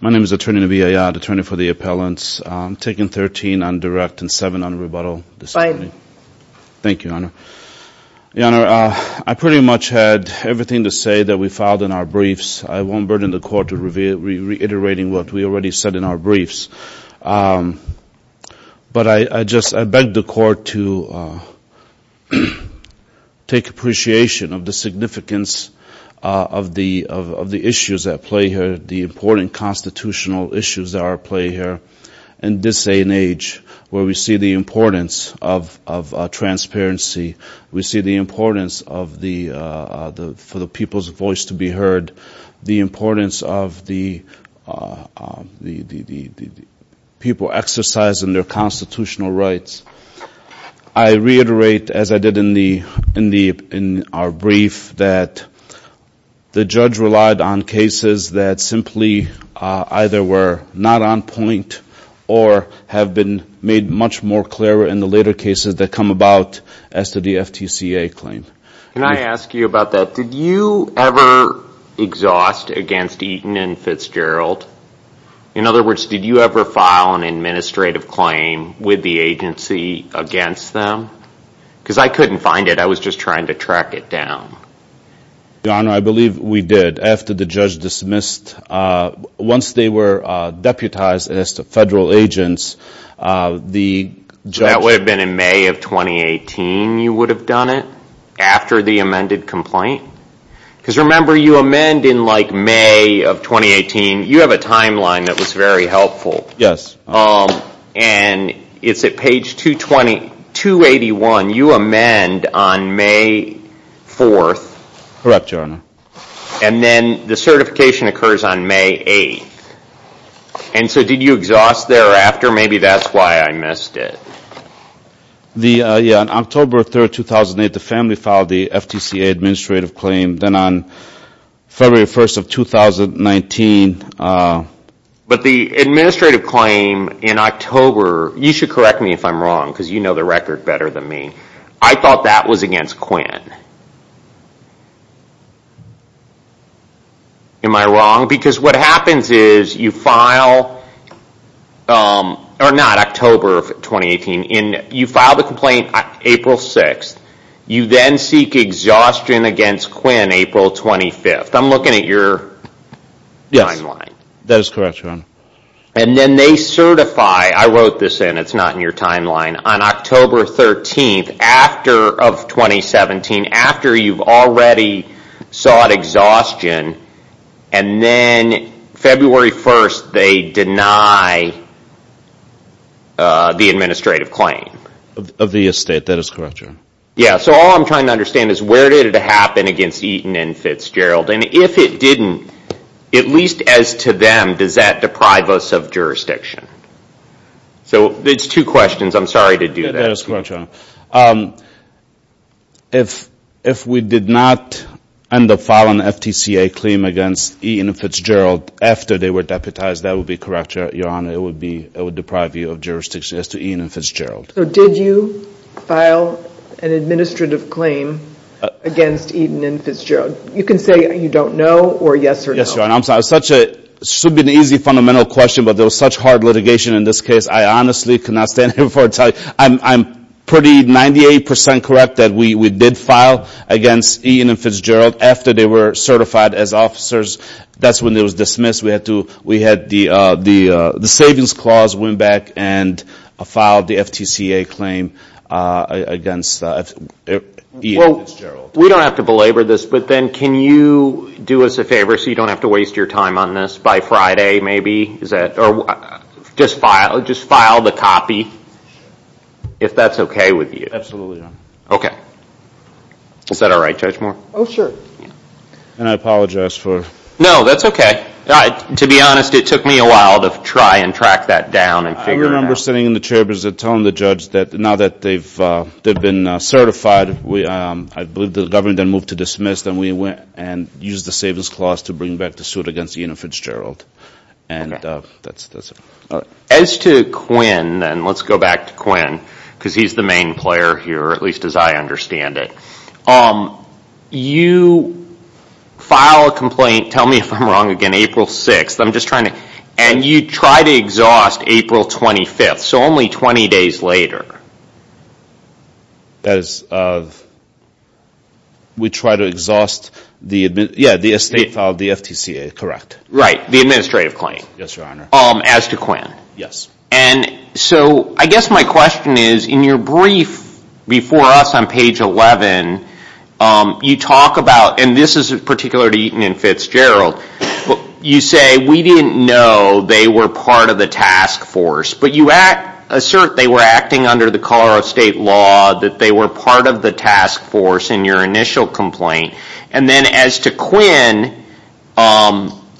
My name is Attorney Navee Ayad, Attorney for the Appellants. I'm taking 13 on direct and 7 on rebuttal this morning. Thank you, Your Honor. Your Honor, I pretty much had everything to say that we filed in our briefs. I won't burden the Court to reiterate what we already said in our briefs. But I just beg the Court to take appreciation of the significance of the issues at play here, the important constitutional issues that are at play here in this day and age, where we see the importance of transparency, we see the importance for the people's voice to be heard, the importance of the people exercising their constitutional rights. I reiterate, as I did in our brief, that the judge relied on cases that simply either were not on point or have been made much more clear in the later cases that come about as to the FTCA claim. Can I ask you about that? Did you ever exhaust against Eaton and Fitzgerald? In other words, did you ever file an administrative claim with the agency against them? Because I couldn't find it. I was just trying to track it down. Your Honor, I believe we did. After the judge dismissed, once they were deputized as federal agents, the judge... That would have been in May of 2018, you would have done it? After the amended complaint? Because remember, you amend in May of 2018. You have a timeline that was very helpful. Yes. And it's at page 281. You amend on May 4th. Correct, Your Honor. And then the certification occurs on May 8th. And so did you exhaust thereafter? Maybe that's why I missed it. On October 3rd, 2008, the family filed the FTCA administrative claim. Then on February 1st of 2019... But the administrative claim in October... You should correct me if I'm wrong, because you know the record better than me. I thought that was against Quinn. Am I wrong? Because what happens is you file... Or not, October of 2018. You file the complaint April 6th. You then seek exhaustion against Quinn April 25th. I'm looking at your timeline. Yes, that is correct, Your Honor. And then they certify... I wrote this in, it's not in your timeline. On October 13th of 2017, after you've already sought exhaustion, and then February 1st, they deny the administrative claim. Of the estate, that is correct, Your Honor. Yes, so all I'm trying to understand is where did it happen against Eaton and Fitzgerald? And if it didn't, at least as to them, does that deprive us of jurisdiction? So it's two questions. I'm sorry to do that. That is correct, Your Honor. If we did not end up filing an FTCA claim against Eaton and Fitzgerald after they were deputized, that would be correct, Your Honor. It would deprive you of jurisdiction as to Eaton and Fitzgerald. So did you file an administrative claim against Eaton and Fitzgerald? You can say you don't know, or yes or no. Yes, Your Honor. It should be an easy fundamental question, but there was such hard litigation in this case, I honestly cannot stand here before I tell you. I'm pretty 98% correct that we did file against Eaton and Fitzgerald after they were certified as officers. That's when they were dismissed. We had the savings clause went back and filed the FTCA claim against Eaton and Fitzgerald. We don't have to belabor this, but then can you do us a favor so you don't have to waste your time on this by Friday, maybe? Just file the copy, if that's okay with you. Absolutely, Your Honor. Okay. Is that all right, Judge Moore? Oh, sure. And I apologize for... No, that's okay. To be honest, it took me a while to try and track that down and figure it out. I remember sitting in the chair position telling the judge that now that they've been certified, I believe the government then moved to dismiss, then we went and used the savings clause to bring back the suit against Eaton and Fitzgerald. And that's it. As to Quinn, and let's go back to Quinn, because he's the main player here, at least as I understand it, you file a complaint, tell me if I'm wrong again, April 6th. And you try to exhaust April 25th, so only 20 days later. As of... We try to exhaust the estate file of the FTCA, correct? Right, the administrative claim. Yes, Your Honor. As to Quinn. Yes. And so I guess my question is, in your brief before us on page 11, you talk about, and this is particular to Eaton and Fitzgerald, you say, we didn't know they were part of the task force, but you assert they were acting under the color of state law, that they were part of the task force in your initial complaint. And then as to Quinn,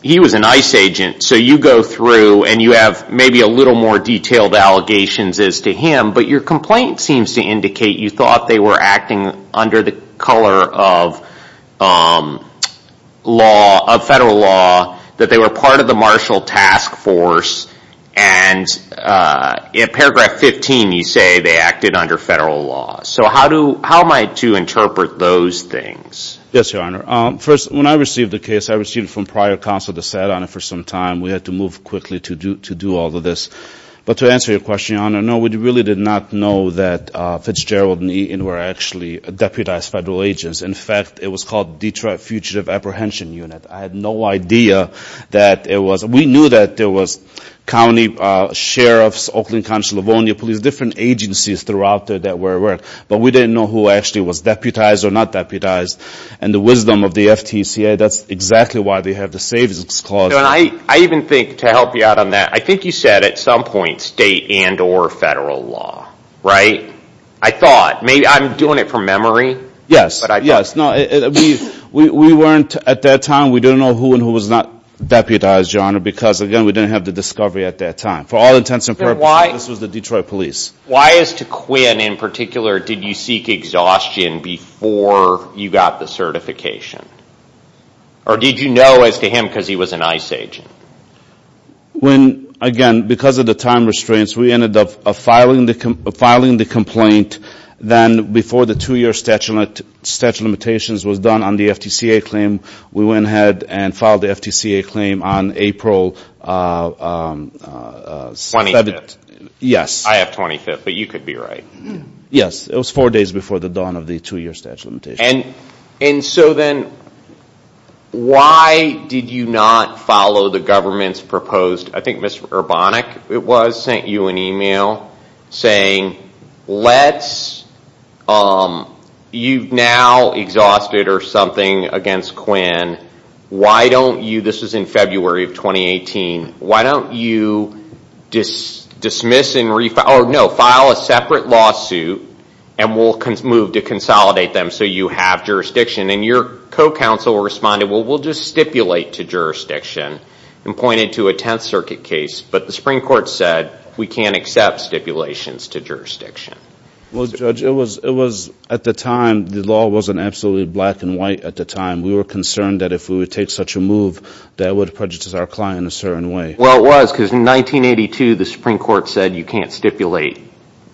he was an ICE agent, so you go through and you have maybe a little more detailed allegations as to him, but your complaint seems to indicate you thought they were acting under the color of federal law, that they were part of the marshal task force, and in paragraph 15 you say they acted under federal law. So how am I to interpret those things? Yes, Your Honor. First, when I received the case, I received it from prior counsel that sat on it for some time. We had to move quickly to do all of this. But to answer your question, Your Honor, no, we really did not know that Fitzgerald and Eaton were actually deputized federal agents. In fact, it was called Detroit Fugitive Apprehension Unit. I had no idea that it was. We knew that there was county sheriffs, Oakland Council, Livonia Police, different agencies throughout there that were at work, but we didn't know who actually was deputized or not deputized. And the wisdom of the FTCA, that's exactly why they have the savings clause. I even think, to help you out on that, I think you said at some point state and or federal law, right? I thought, maybe I'm doing it from memory. Yes, yes. No, we weren't at that time. We didn't know who and who was not deputized, Your Honor, because, again, we didn't have the discovery at that time. For all intents and purposes, this was the Detroit Police. Why as to Quinn in particular did you seek exhaustion before you got the certification? Or did you know as to him because he was an ICE agent? When, again, because of the time restraints, we ended up filing the complaint then before the two-year statute of limitations was done on the FTCA claim. We went ahead and filed the FTCA claim on April 7th. 25th. Yes. I have 25th, but you could be right. Yes, it was four days before the dawn of the two-year statute of limitations. Then why did you not follow the government's proposed? I think Ms. Urbanik, it was, sent you an email saying, you've now exhausted or something against Quinn. Why don't you, this was in February of 2018, why don't you dismiss and file a separate lawsuit and we'll move to consolidate them so you have jurisdiction? And your co-counsel responded, well, we'll just stipulate to jurisdiction and pointed to a Tenth Circuit case, but the Supreme Court said we can't accept stipulations to jurisdiction. Well, Judge, it was at the time, the law wasn't absolutely black and white at the time. We were concerned that if we would take such a move, that would prejudice our client in a certain way. Well, it was because in 1982, the Supreme Court said you can't stipulate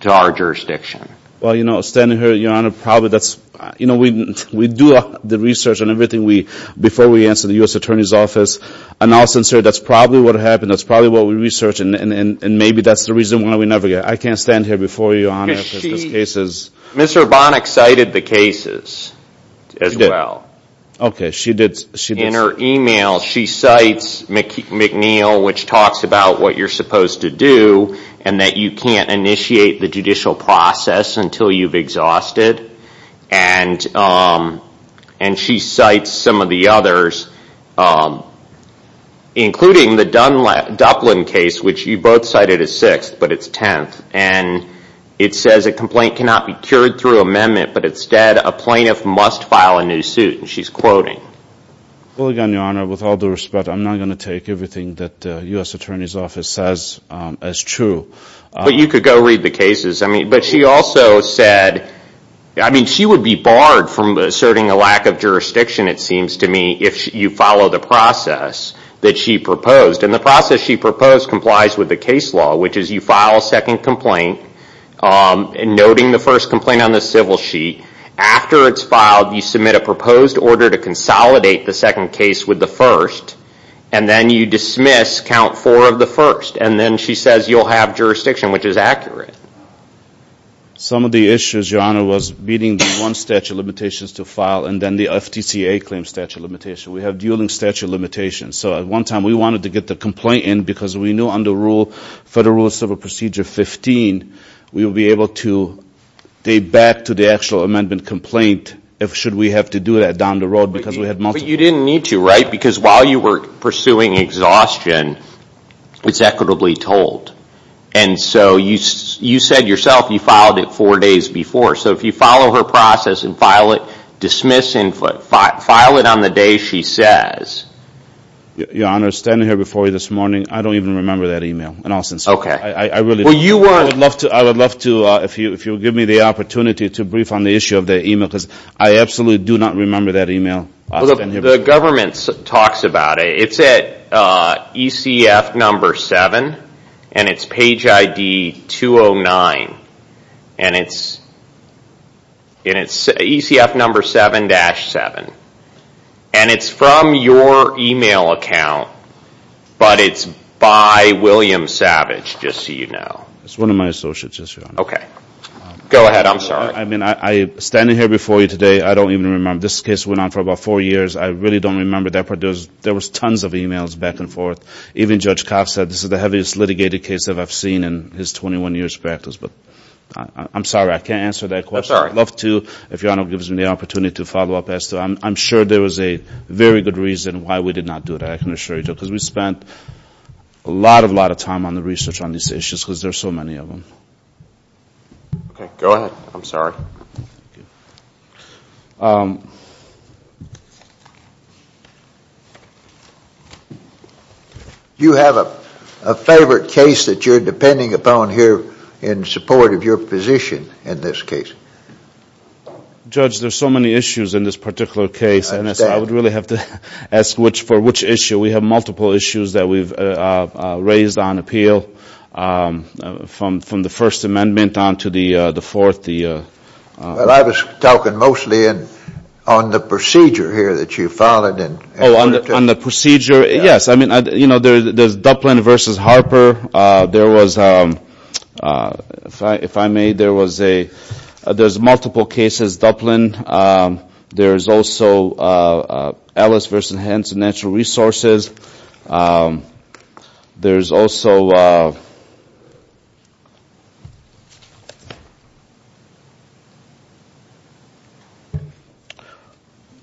to our jurisdiction. Well, you know, standing here, Your Honor, probably that's, you know, we do the research on everything we, before we answer the U.S. Attorney's Office, and also, that's probably what happened. That's probably what we researched, and maybe that's the reason why we never get, I can't stand here before you, Your Honor. Mr. Urbanik cited the cases as well. Okay, she did. In her email, she cites McNeill, which talks about what you're supposed to do and that you can't initiate the judicial process until you've exhausted, and she cites some of the others, including the Duplin case, which you both cited as sixth, but it's tenth, and it says a complaint cannot be cured through amendment, but instead, a plaintiff must file a new suit, and she's quoting. Well, again, Your Honor, with all due respect, I'm not going to take everything that the U.S. Attorney's Office says as true. But you could go read the cases. I mean, but she also said, I mean, she would be barred from asserting a lack of jurisdiction, it seems to me, if you follow the process that she proposed, and the process she proposed complies with the case law, which is you file a second complaint, noting the first complaint on the civil sheet. After it's filed, you submit a proposed order to consolidate the second case with the first, and then you dismiss count four of the first. And then she says you'll have jurisdiction, which is accurate. Some of the issues, Your Honor, was meeting the one statute of limitations to file, and then the FTCA claims statute of limitations. We have dueling statute of limitations. So at one time, we wanted to get the complaint in because we knew under Federal Rule of Civil Procedure 15, we would be able to date back to the actual amendment complaint if should we have to do that down the road. But you didn't need to, right? Because while you were pursuing exhaustion, it's equitably told. And so you said yourself you filed it four days before. So if you follow her process and file it, dismiss and file it on the day she says. Your Honor, standing here before you this morning, I don't even remember that email. In all sincerity. Okay. I really don't. I would love to, if you would give me the opportunity to brief on the issue of the email, because I absolutely do not remember that email. The government talks about it. It's at ECF number seven, and it's page ID 209. And it's ECF number 7-7. And it's from your email account, but it's by William Savage, just so you know. It's one of my associates, Your Honor. Okay. Go ahead. I'm sorry. I mean, standing here before you today, I don't even remember. This case went on for about four years. I really don't remember that part. There was tons of emails back and forth. Even Judge Kopp said this is the heaviest litigated case that I've seen in his 21 years practice. But I'm sorry. I can't answer that question. I'm sorry. I would love to, if Your Honor gives me the opportunity to follow up. I'm sure there was a very good reason why we did not do that, I can assure you. Because we spent a lot, a lot of time on the research on these issues, because there are so many of them. Okay. Go ahead. I'm sorry. Thank you. Do you have a favorite case that you're depending upon here in support of your position in this case? Judge, there are so many issues in this particular case. I understand. I would really have to ask for which issue. We have multiple issues that we've raised on appeal from the First Amendment on to the Fourth. I was talking mostly on the procedure here that you followed. Oh, on the procedure? Yes. I mean, you know, there's Duplin versus Harper. There was, if I may, there was a, there's multiple cases, Duplin. There's also Ellis versus Henson Natural Resources. There's also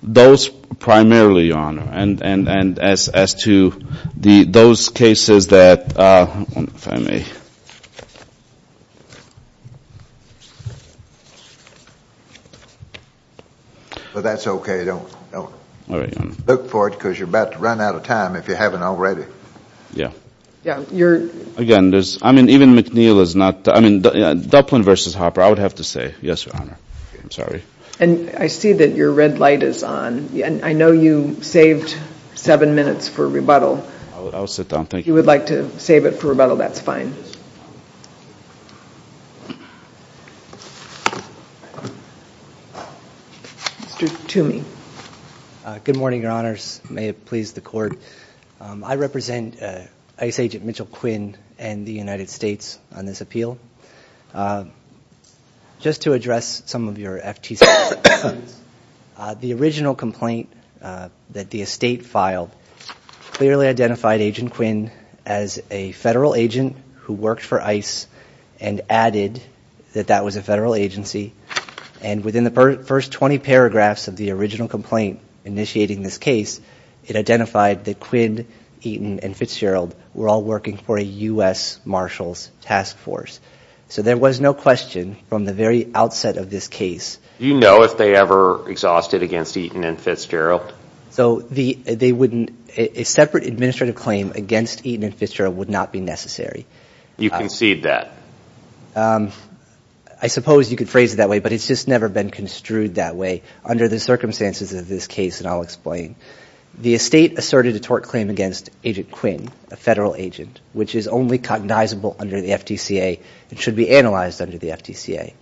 those primarily, Your Honor. And as to those cases that, if I may. Well, that's okay. Don't look for it, because you're about to run out of time if you haven't already. Yeah. Again, there's, I mean, even McNeil is not, I mean, Duplin versus Harper, I would have to say. Yes, Your Honor. I'm sorry. And I see that your red light is on. I know you saved seven minutes for rebuttal. I'll sit down. Thank you. If you would like to save it for rebuttal, that's fine. Mr. Toomey. Good morning, Your Honors. May it please the Court. I represent ICE Agent Mitchell Quinn and the United States on this appeal. Just to address some of your FTC questions. The original complaint that the estate filed clearly identified Agent Quinn as a federal agent who worked for ICE and added that that was a federal agency. And within the first 20 paragraphs of the original complaint initiating this case, it identified that Quinn, Eaton, and Fitzgerald were all working for a U.S. Marshals Task Force. So there was no question from the very outset of this case. Do you know if they ever exhausted against Eaton and Fitzgerald? So they wouldn't, a separate administrative claim against Eaton and Fitzgerald would not be necessary. You concede that. I suppose you could phrase it that way, but it's just never been construed that way. Under the circumstances of this case, and I'll explain, the estate asserted a tort claim against Agent Quinn, a federal agent, which is only cognizable under the FTCA and should be analyzed under the FTCA.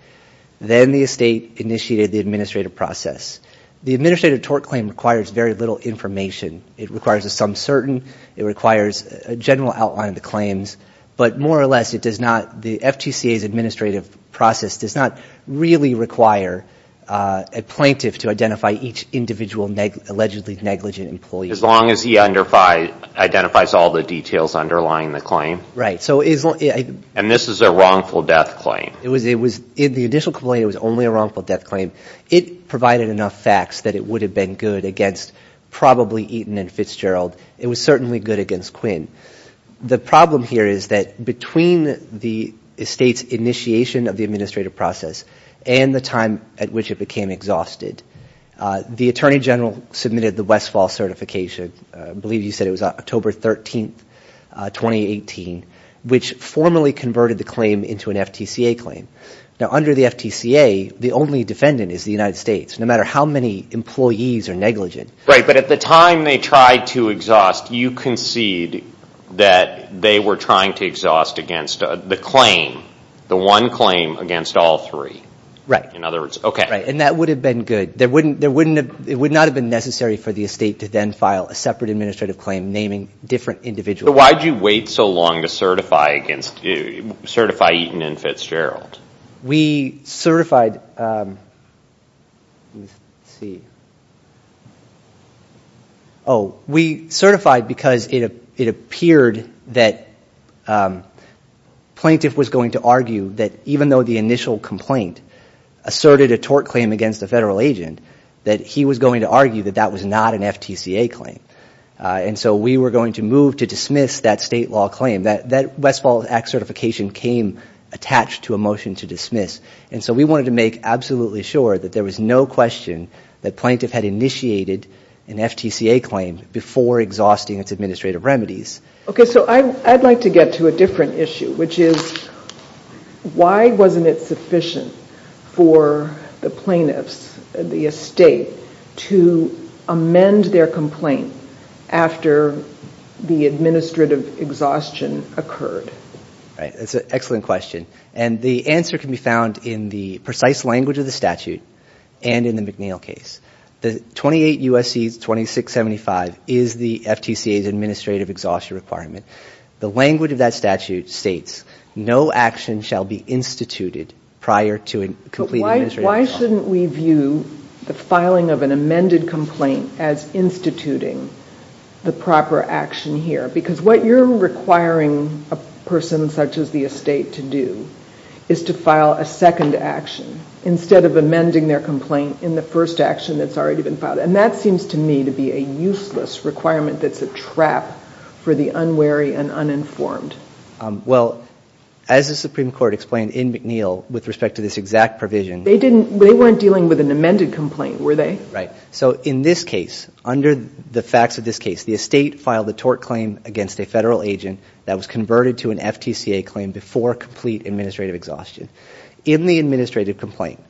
Then the estate initiated the administrative process. The administrative tort claim requires very little information. It requires a sum certain. It requires a general outline of the claims. But more or less, it does not, the FTCA's administrative process does not really require a plaintiff to identify each individual allegedly negligent employee. As long as he identifies all the details underlying the claim. Right. And this is a wrongful death claim. It was, in the initial complaint, it was only a wrongful death claim. It provided enough facts that it would have been good against probably Eaton and Fitzgerald. It was certainly good against Quinn. The problem here is that between the estate's initiation of the administrative process and the time at which it became exhausted, the Attorney General submitted the Westfall certification, I believe you said it was October 13, 2018, which formally converted the claim into an FTCA claim. Now, under the FTCA, the only defendant is the United States, no matter how many employees are negligent. Right, but at the time they tried to exhaust, you concede that they were trying to exhaust against the claim, the one claim against all three. Right. In other words, okay. Right, and that would have been good. It would not have been necessary for the estate to then file a separate administrative claim naming different individuals. But why did you wait so long to certify Eaton and Fitzgerald? We certified because it appeared that the plaintiff was going to argue that even though the initial complaint asserted a tort claim against a federal agent, that he was going to argue that that was not an FTCA claim. And so we were going to move to dismiss that state law claim. That Westfall Act certification came attached to a motion to dismiss. And so we wanted to make absolutely sure that there was no question that plaintiff had initiated an FTCA claim before exhausting its administrative remedies. Okay, so I'd like to get to a different issue, which is why wasn't it sufficient for the plaintiffs, the estate, to amend their complaint after the administrative exhaustion occurred? Right. That's an excellent question. And the answer can be found in the precise language of the statute and in the McNeil case. The 28 U.S.C. 2675 is the FTCA's administrative exhaustion requirement. The language of that statute states, no action shall be instituted prior to a complete administrative exhaustion. Why shouldn't we view the filing of an amended complaint as instituting the proper action here? Because what you're requiring a person such as the estate to do is to file a second action instead of amending their complaint in the first action that's already been filed. And that seems to me to be a useless requirement that's a trap for the unwary and uninformed. Well, as the Supreme Court explained in McNeil with respect to this exact provision They weren't dealing with an amended complaint, were they? Right. So in this case, under the facts of this case, the estate filed a tort claim against a Federal agent that was converted to an FTCA claim before complete administrative exhaustion. In the administrative complaint,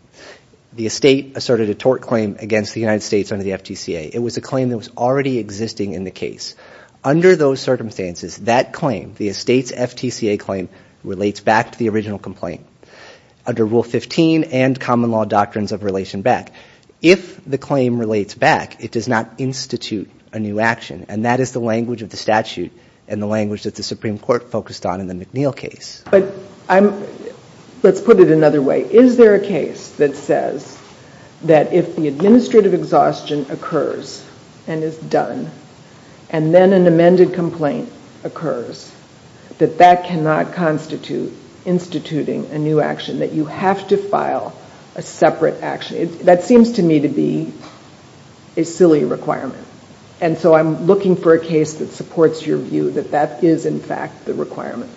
the estate asserted a tort claim against the United States under the FTCA. It was a claim that was already existing in the case. Under those circumstances, that claim, the estate's FTCA claim, relates back to the original complaint. Under Rule 15 and common law doctrines of relation back. If the claim relates back, it does not institute a new action. And that is the language of the statute and the language that the Supreme Court focused on in the McNeil case. But let's put it another way. Is there a case that says that if the administrative exhaustion occurs and is done and then an amended complaint occurs, that that cannot constitute instituting a new action? That you have to file a separate action? That seems to me to be a silly requirement. And so I'm looking for a case that supports your view that that is, in fact, the requirement.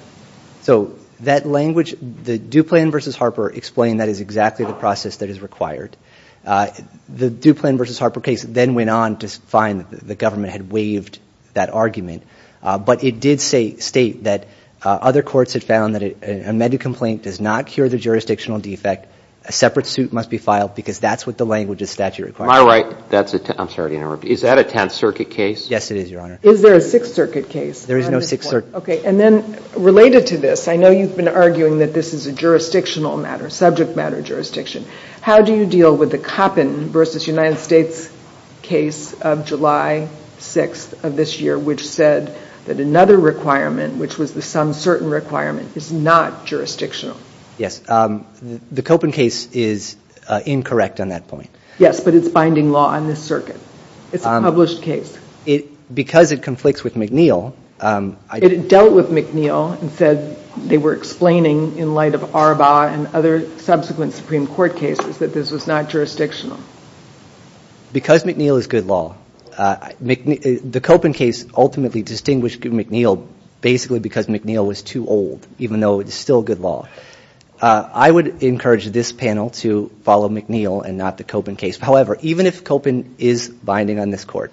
So that language, the Duplan v. Harper explained that is exactly the process that is required. The Duplan v. Harper case then went on to find that the government had waived that argument. But it did state that other courts had found that an amended complaint does not cure the jurisdictional defect. A separate suit must be filed because that's what the language of statute requires. My right. I'm sorry to interrupt. Is that a Tenth Circuit case? Yes, it is, Your Honor. Is there a Sixth Circuit case? There is no Sixth Circuit. Okay. And then related to this, I know you've been arguing that this is a jurisdictional matter, subject matter jurisdiction. How do you deal with the Koppen v. United States case of July 6th of this year, which said that another requirement, which was the some certain requirement, is not jurisdictional? Yes. The Koppen case is incorrect on that point. Yes, but it's binding law on this circuit. It's a published case. Because it conflicts with McNeil. It dealt with McNeil and said they were explaining in light of Arbaugh and other subsequent Supreme Court cases that this was not jurisdictional. Because McNeil is good law. The Koppen case ultimately distinguished McNeil basically because McNeil was too old, even though it's still good law. I would encourage this panel to follow McNeil and not the Koppen case. However, even if Koppen is binding on this court,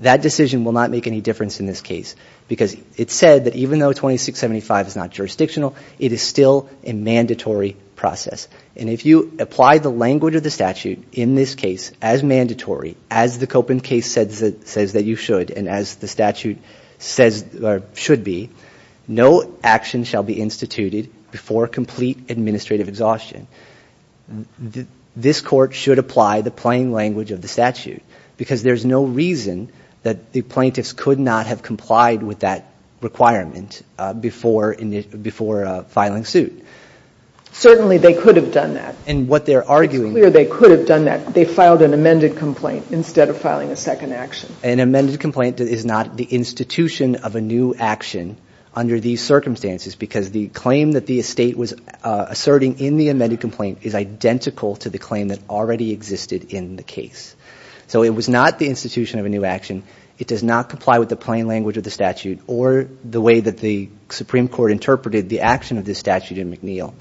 that decision will not make any difference in this case. Because it said that even though 2675 is not jurisdictional, it is still a mandatory process. And if you apply the language of the statute in this case as mandatory, as the Koppen case says that you should and as the statute says or should be, no action shall be instituted before complete administrative exhaustion. This court should apply the plain language of the statute because there's no reason that the plaintiffs could not have complied with that requirement before filing suit. Certainly they could have done that. It's clear they could have done that. They filed an amended complaint instead of filing a second action. An amended complaint is not the institution of a new action under these circumstances because the claim that the estate was asserting in the amended complaint is identical to the claim that already existed in the case. So it was not the institution of a new action. It does not comply with the plain language of the statute or the way that the Supreme Court interpreted the action of this statute in McNeil.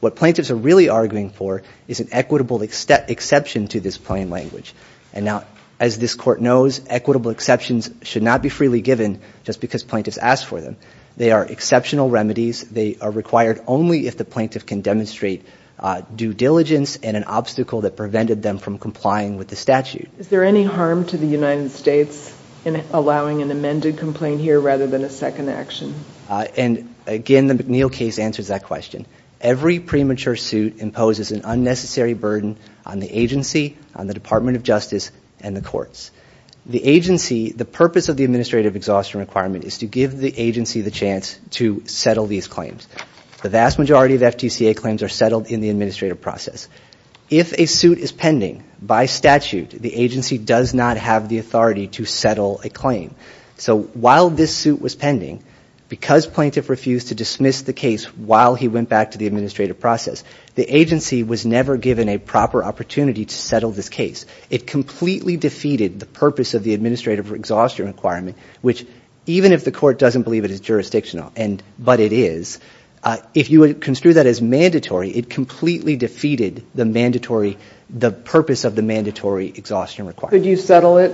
What plaintiffs are really arguing for is an equitable exception to this plain language. And now, as this court knows, equitable exceptions should not be freely given just because plaintiffs asked for them. They are exceptional remedies. They are required only if the plaintiff can demonstrate due diligence and an obstacle that prevented them from complying with the statute. Is there any harm to the United States in allowing an amended complaint here rather than a second action? And again, the McNeil case answers that question. Every premature suit imposes an unnecessary burden on the agency, on the Department of Justice, and the courts. The agency, the purpose of the administrative exhaustion requirement is to give the agency the chance to settle these claims. The vast majority of FTCA claims are settled in the administrative process. If a suit is pending, by statute, the agency does not have the authority to settle a claim. So while this suit was pending, because plaintiff refused to dismiss the case while he went back to the administrative process, the agency was never given a proper opportunity to settle this case. It completely defeated the purpose of the administrative exhaustion requirement, which even if the court doesn't believe it is jurisdictional, but it is, if you would construe that as mandatory, it completely defeated the purpose of the mandatory exhaustion requirement. Could you settle it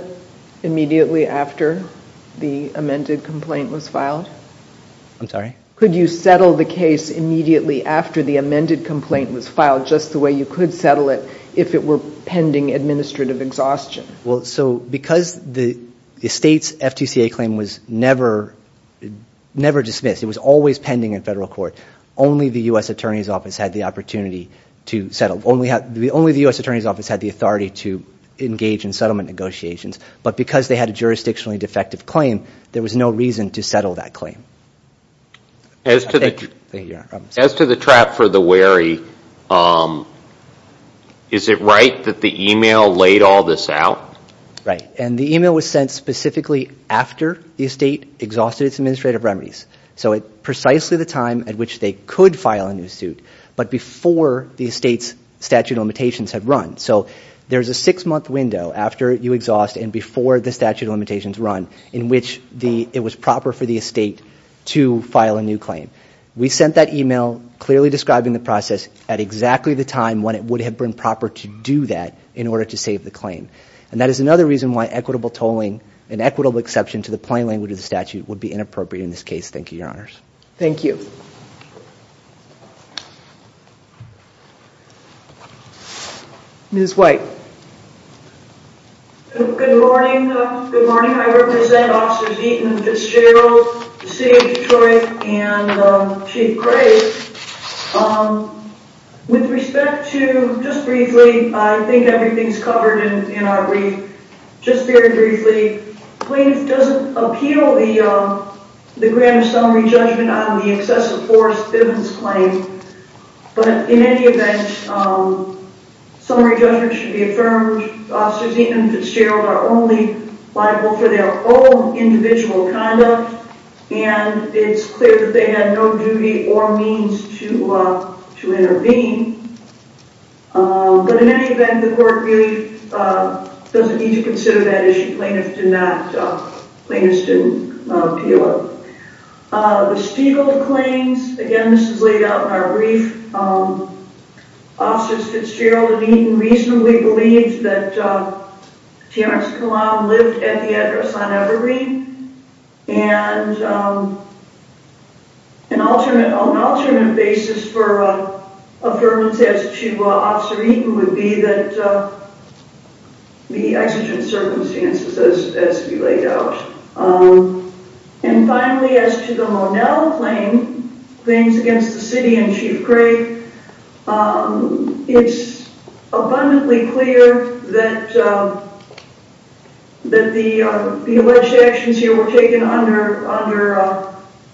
immediately after the amended complaint was filed? I'm sorry? Well, so because the state's FTCA claim was never dismissed, it was always pending in federal court, only the U.S. Attorney's Office had the opportunity to settle. Only the U.S. Attorney's Office had the authority to engage in settlement negotiations, but because they had a jurisdictionally defective claim, there was no reason to settle that claim. As to the trap for the wary, is it right that the email laid all this out? Right. And the email was sent specifically after the estate exhausted its administrative remedies. So at precisely the time at which they could file a new suit, but before the estate's statute of limitations had run. So there's a six-month window after you exhaust and before the statute of limitations run, in which it was proper for the estate to file a new claim. We sent that email clearly describing the process at exactly the time when it would have been proper to do that in order to save the claim. And that is another reason why equitable tolling and equitable exception to the plain language of the statute would be inappropriate in this case. Thank you, Your Honors. Thank you. Ms. White. Good morning. Good morning. I represent Officers Eaton, Fitzgerald, the City of Detroit, and Chief Gray. With respect to, just briefly, I think everything's covered in our brief. Just very briefly. Plaintiff doesn't appeal the grand summary judgment on the excessive force evidence claim, but in any event, summary judgment should be affirmed. Officers Eaton and Fitzgerald are only liable for their own individual conduct, and it's clear that they have no duty or means to intervene. But in any event, the court really doesn't need to consider that issue. Plaintiffs do not, plaintiffs do not appeal it. The Spiegel claims, again, this is laid out in our brief. Officers Fitzgerald and Eaton reasonably believe that T.R.X. Kalam lived at the address on Evergreen, and an alternate basis for affirmance as to Officer Eaton would be that the exigent circumstances as laid out. And finally, as to the Monell claim, claims against the City and Chief Gray, it's abundantly clear that the alleged actions here were taken under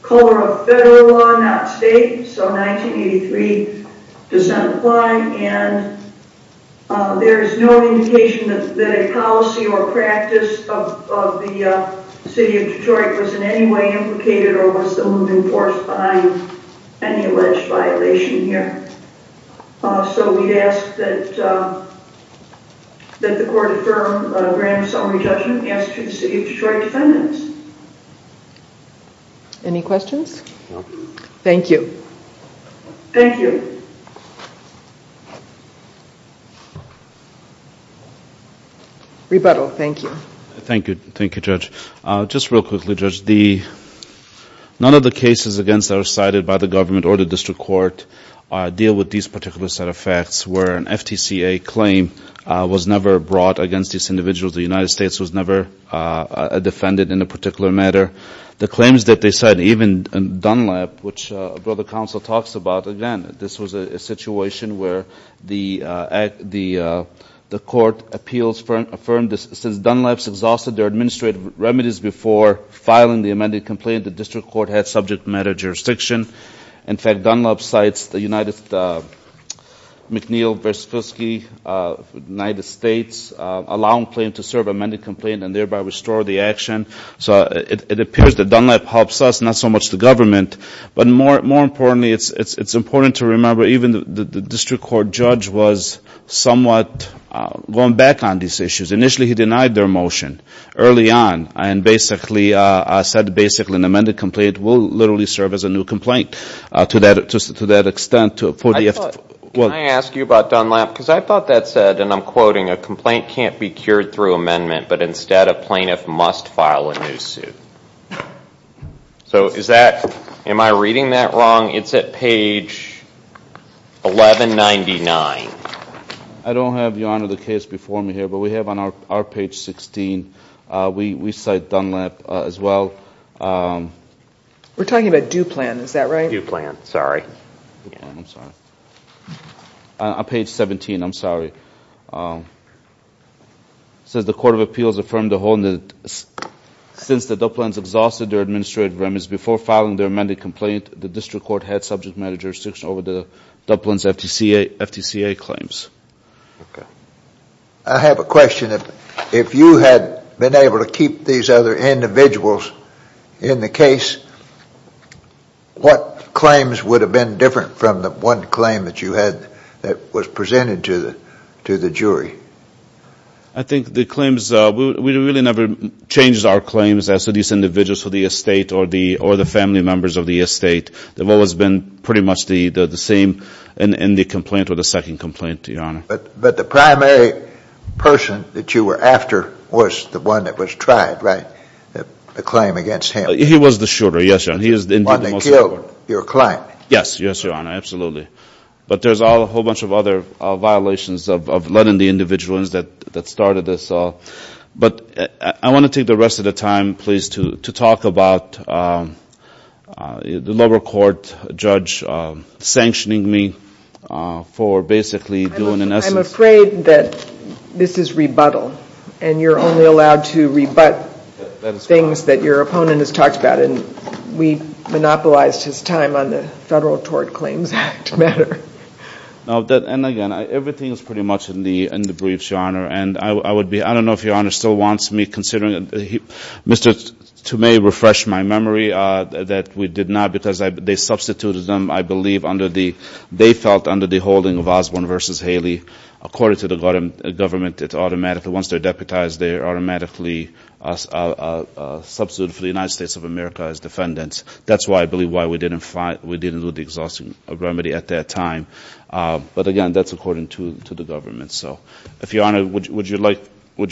color of federal law, not state, so 1983 dissent applied, and there is no indication that a policy or practice of the City of Detroit was in any way implicated or was the moving force behind any alleged violation here. So we ask that the court affirm a grand summary judgment as to the City of Detroit defendants. Any questions? Thank you. Thank you. Rebuttal, thank you. Thank you, Judge. Just real quickly, Judge, none of the cases against us cited by the government or the district court deal with these particular set of facts where an FTCA claim was never brought against these individuals. The United States was never defended in a particular matter. The claims that they cite, even Dunlap, which the council talks about, again, this was a situation where the court appeals affirmed that since Dunlap's exhausted their administrative remedies before filing the amended complaint, the district court had subject matter jurisdiction. In fact, Dunlap cites the United McNeil vs. Fiske United States allowing claim to serve amended complaint and thereby restore the action. So it appears that Dunlap helps us, not so much the government. But more importantly, it's important to remember even the district court judge was somewhat going back on these issues. Initially he denied their motion early on and basically said basically an amended complaint will literally serve as a new complaint to that extent. Can I ask you about Dunlap? Because I thought that said, and I'm quoting, a complaint can't be cured through amendment, but instead a plaintiff must file a new suit. So is that, am I reading that wrong? It's at page 1199. I don't have, Your Honor, the case before me here, but we have on our page 16, we cite Dunlap as well. We're talking about Duplan, is that right? Duplan, sorry. On page 17, I'm sorry. It says the court of appeals affirmed the whole, since the Duplans exhausted their administrative remedies before filing their amended complaint, the district court had subject matter jurisdiction over the Duplans FTCA claims. Okay. I have a question. If you had been able to keep these other individuals in the case, what claims would have been different from the one that was presented to the jury? I think the claims, we really never changed our claims as to these individuals for the estate or the family members of the estate. They've always been pretty much the same in the complaint or the second complaint, Your Honor. But the primary person that you were after was the one that was tried, right? The claim against him. He was the shooter, yes, Your Honor. Yes, Your Honor, absolutely. But there's a whole bunch of other violations of letting the individuals that started this all. But I want to take the rest of the time, please, to talk about the lower court judge sanctioning me for basically doing, in essence... I'm afraid that this is rebuttal. And you're only allowed to rebut things that your opponent has talked about. We monopolized his time on the Federal Tort Claims Act matter. And again, everything is pretty much in the briefs, Your Honor. I don't know if Your Honor still wants me considering... Mr. Tomei refreshed my memory that we did not because they substituted them, I believe, under the holding of Osborne v. Haley. According to the government, it's automatically once they're deputized, they're automatically substituted for the United States of America as defendants. That's why I believe why we didn't do the exhausting remedy at that time. But again, that's according to the government. So if Your Honor, would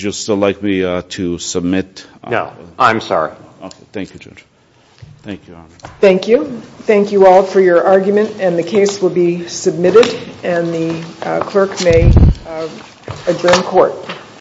you still like me to submit? No, I'm sorry. Thank you, Judge. Thank you, Your Honor.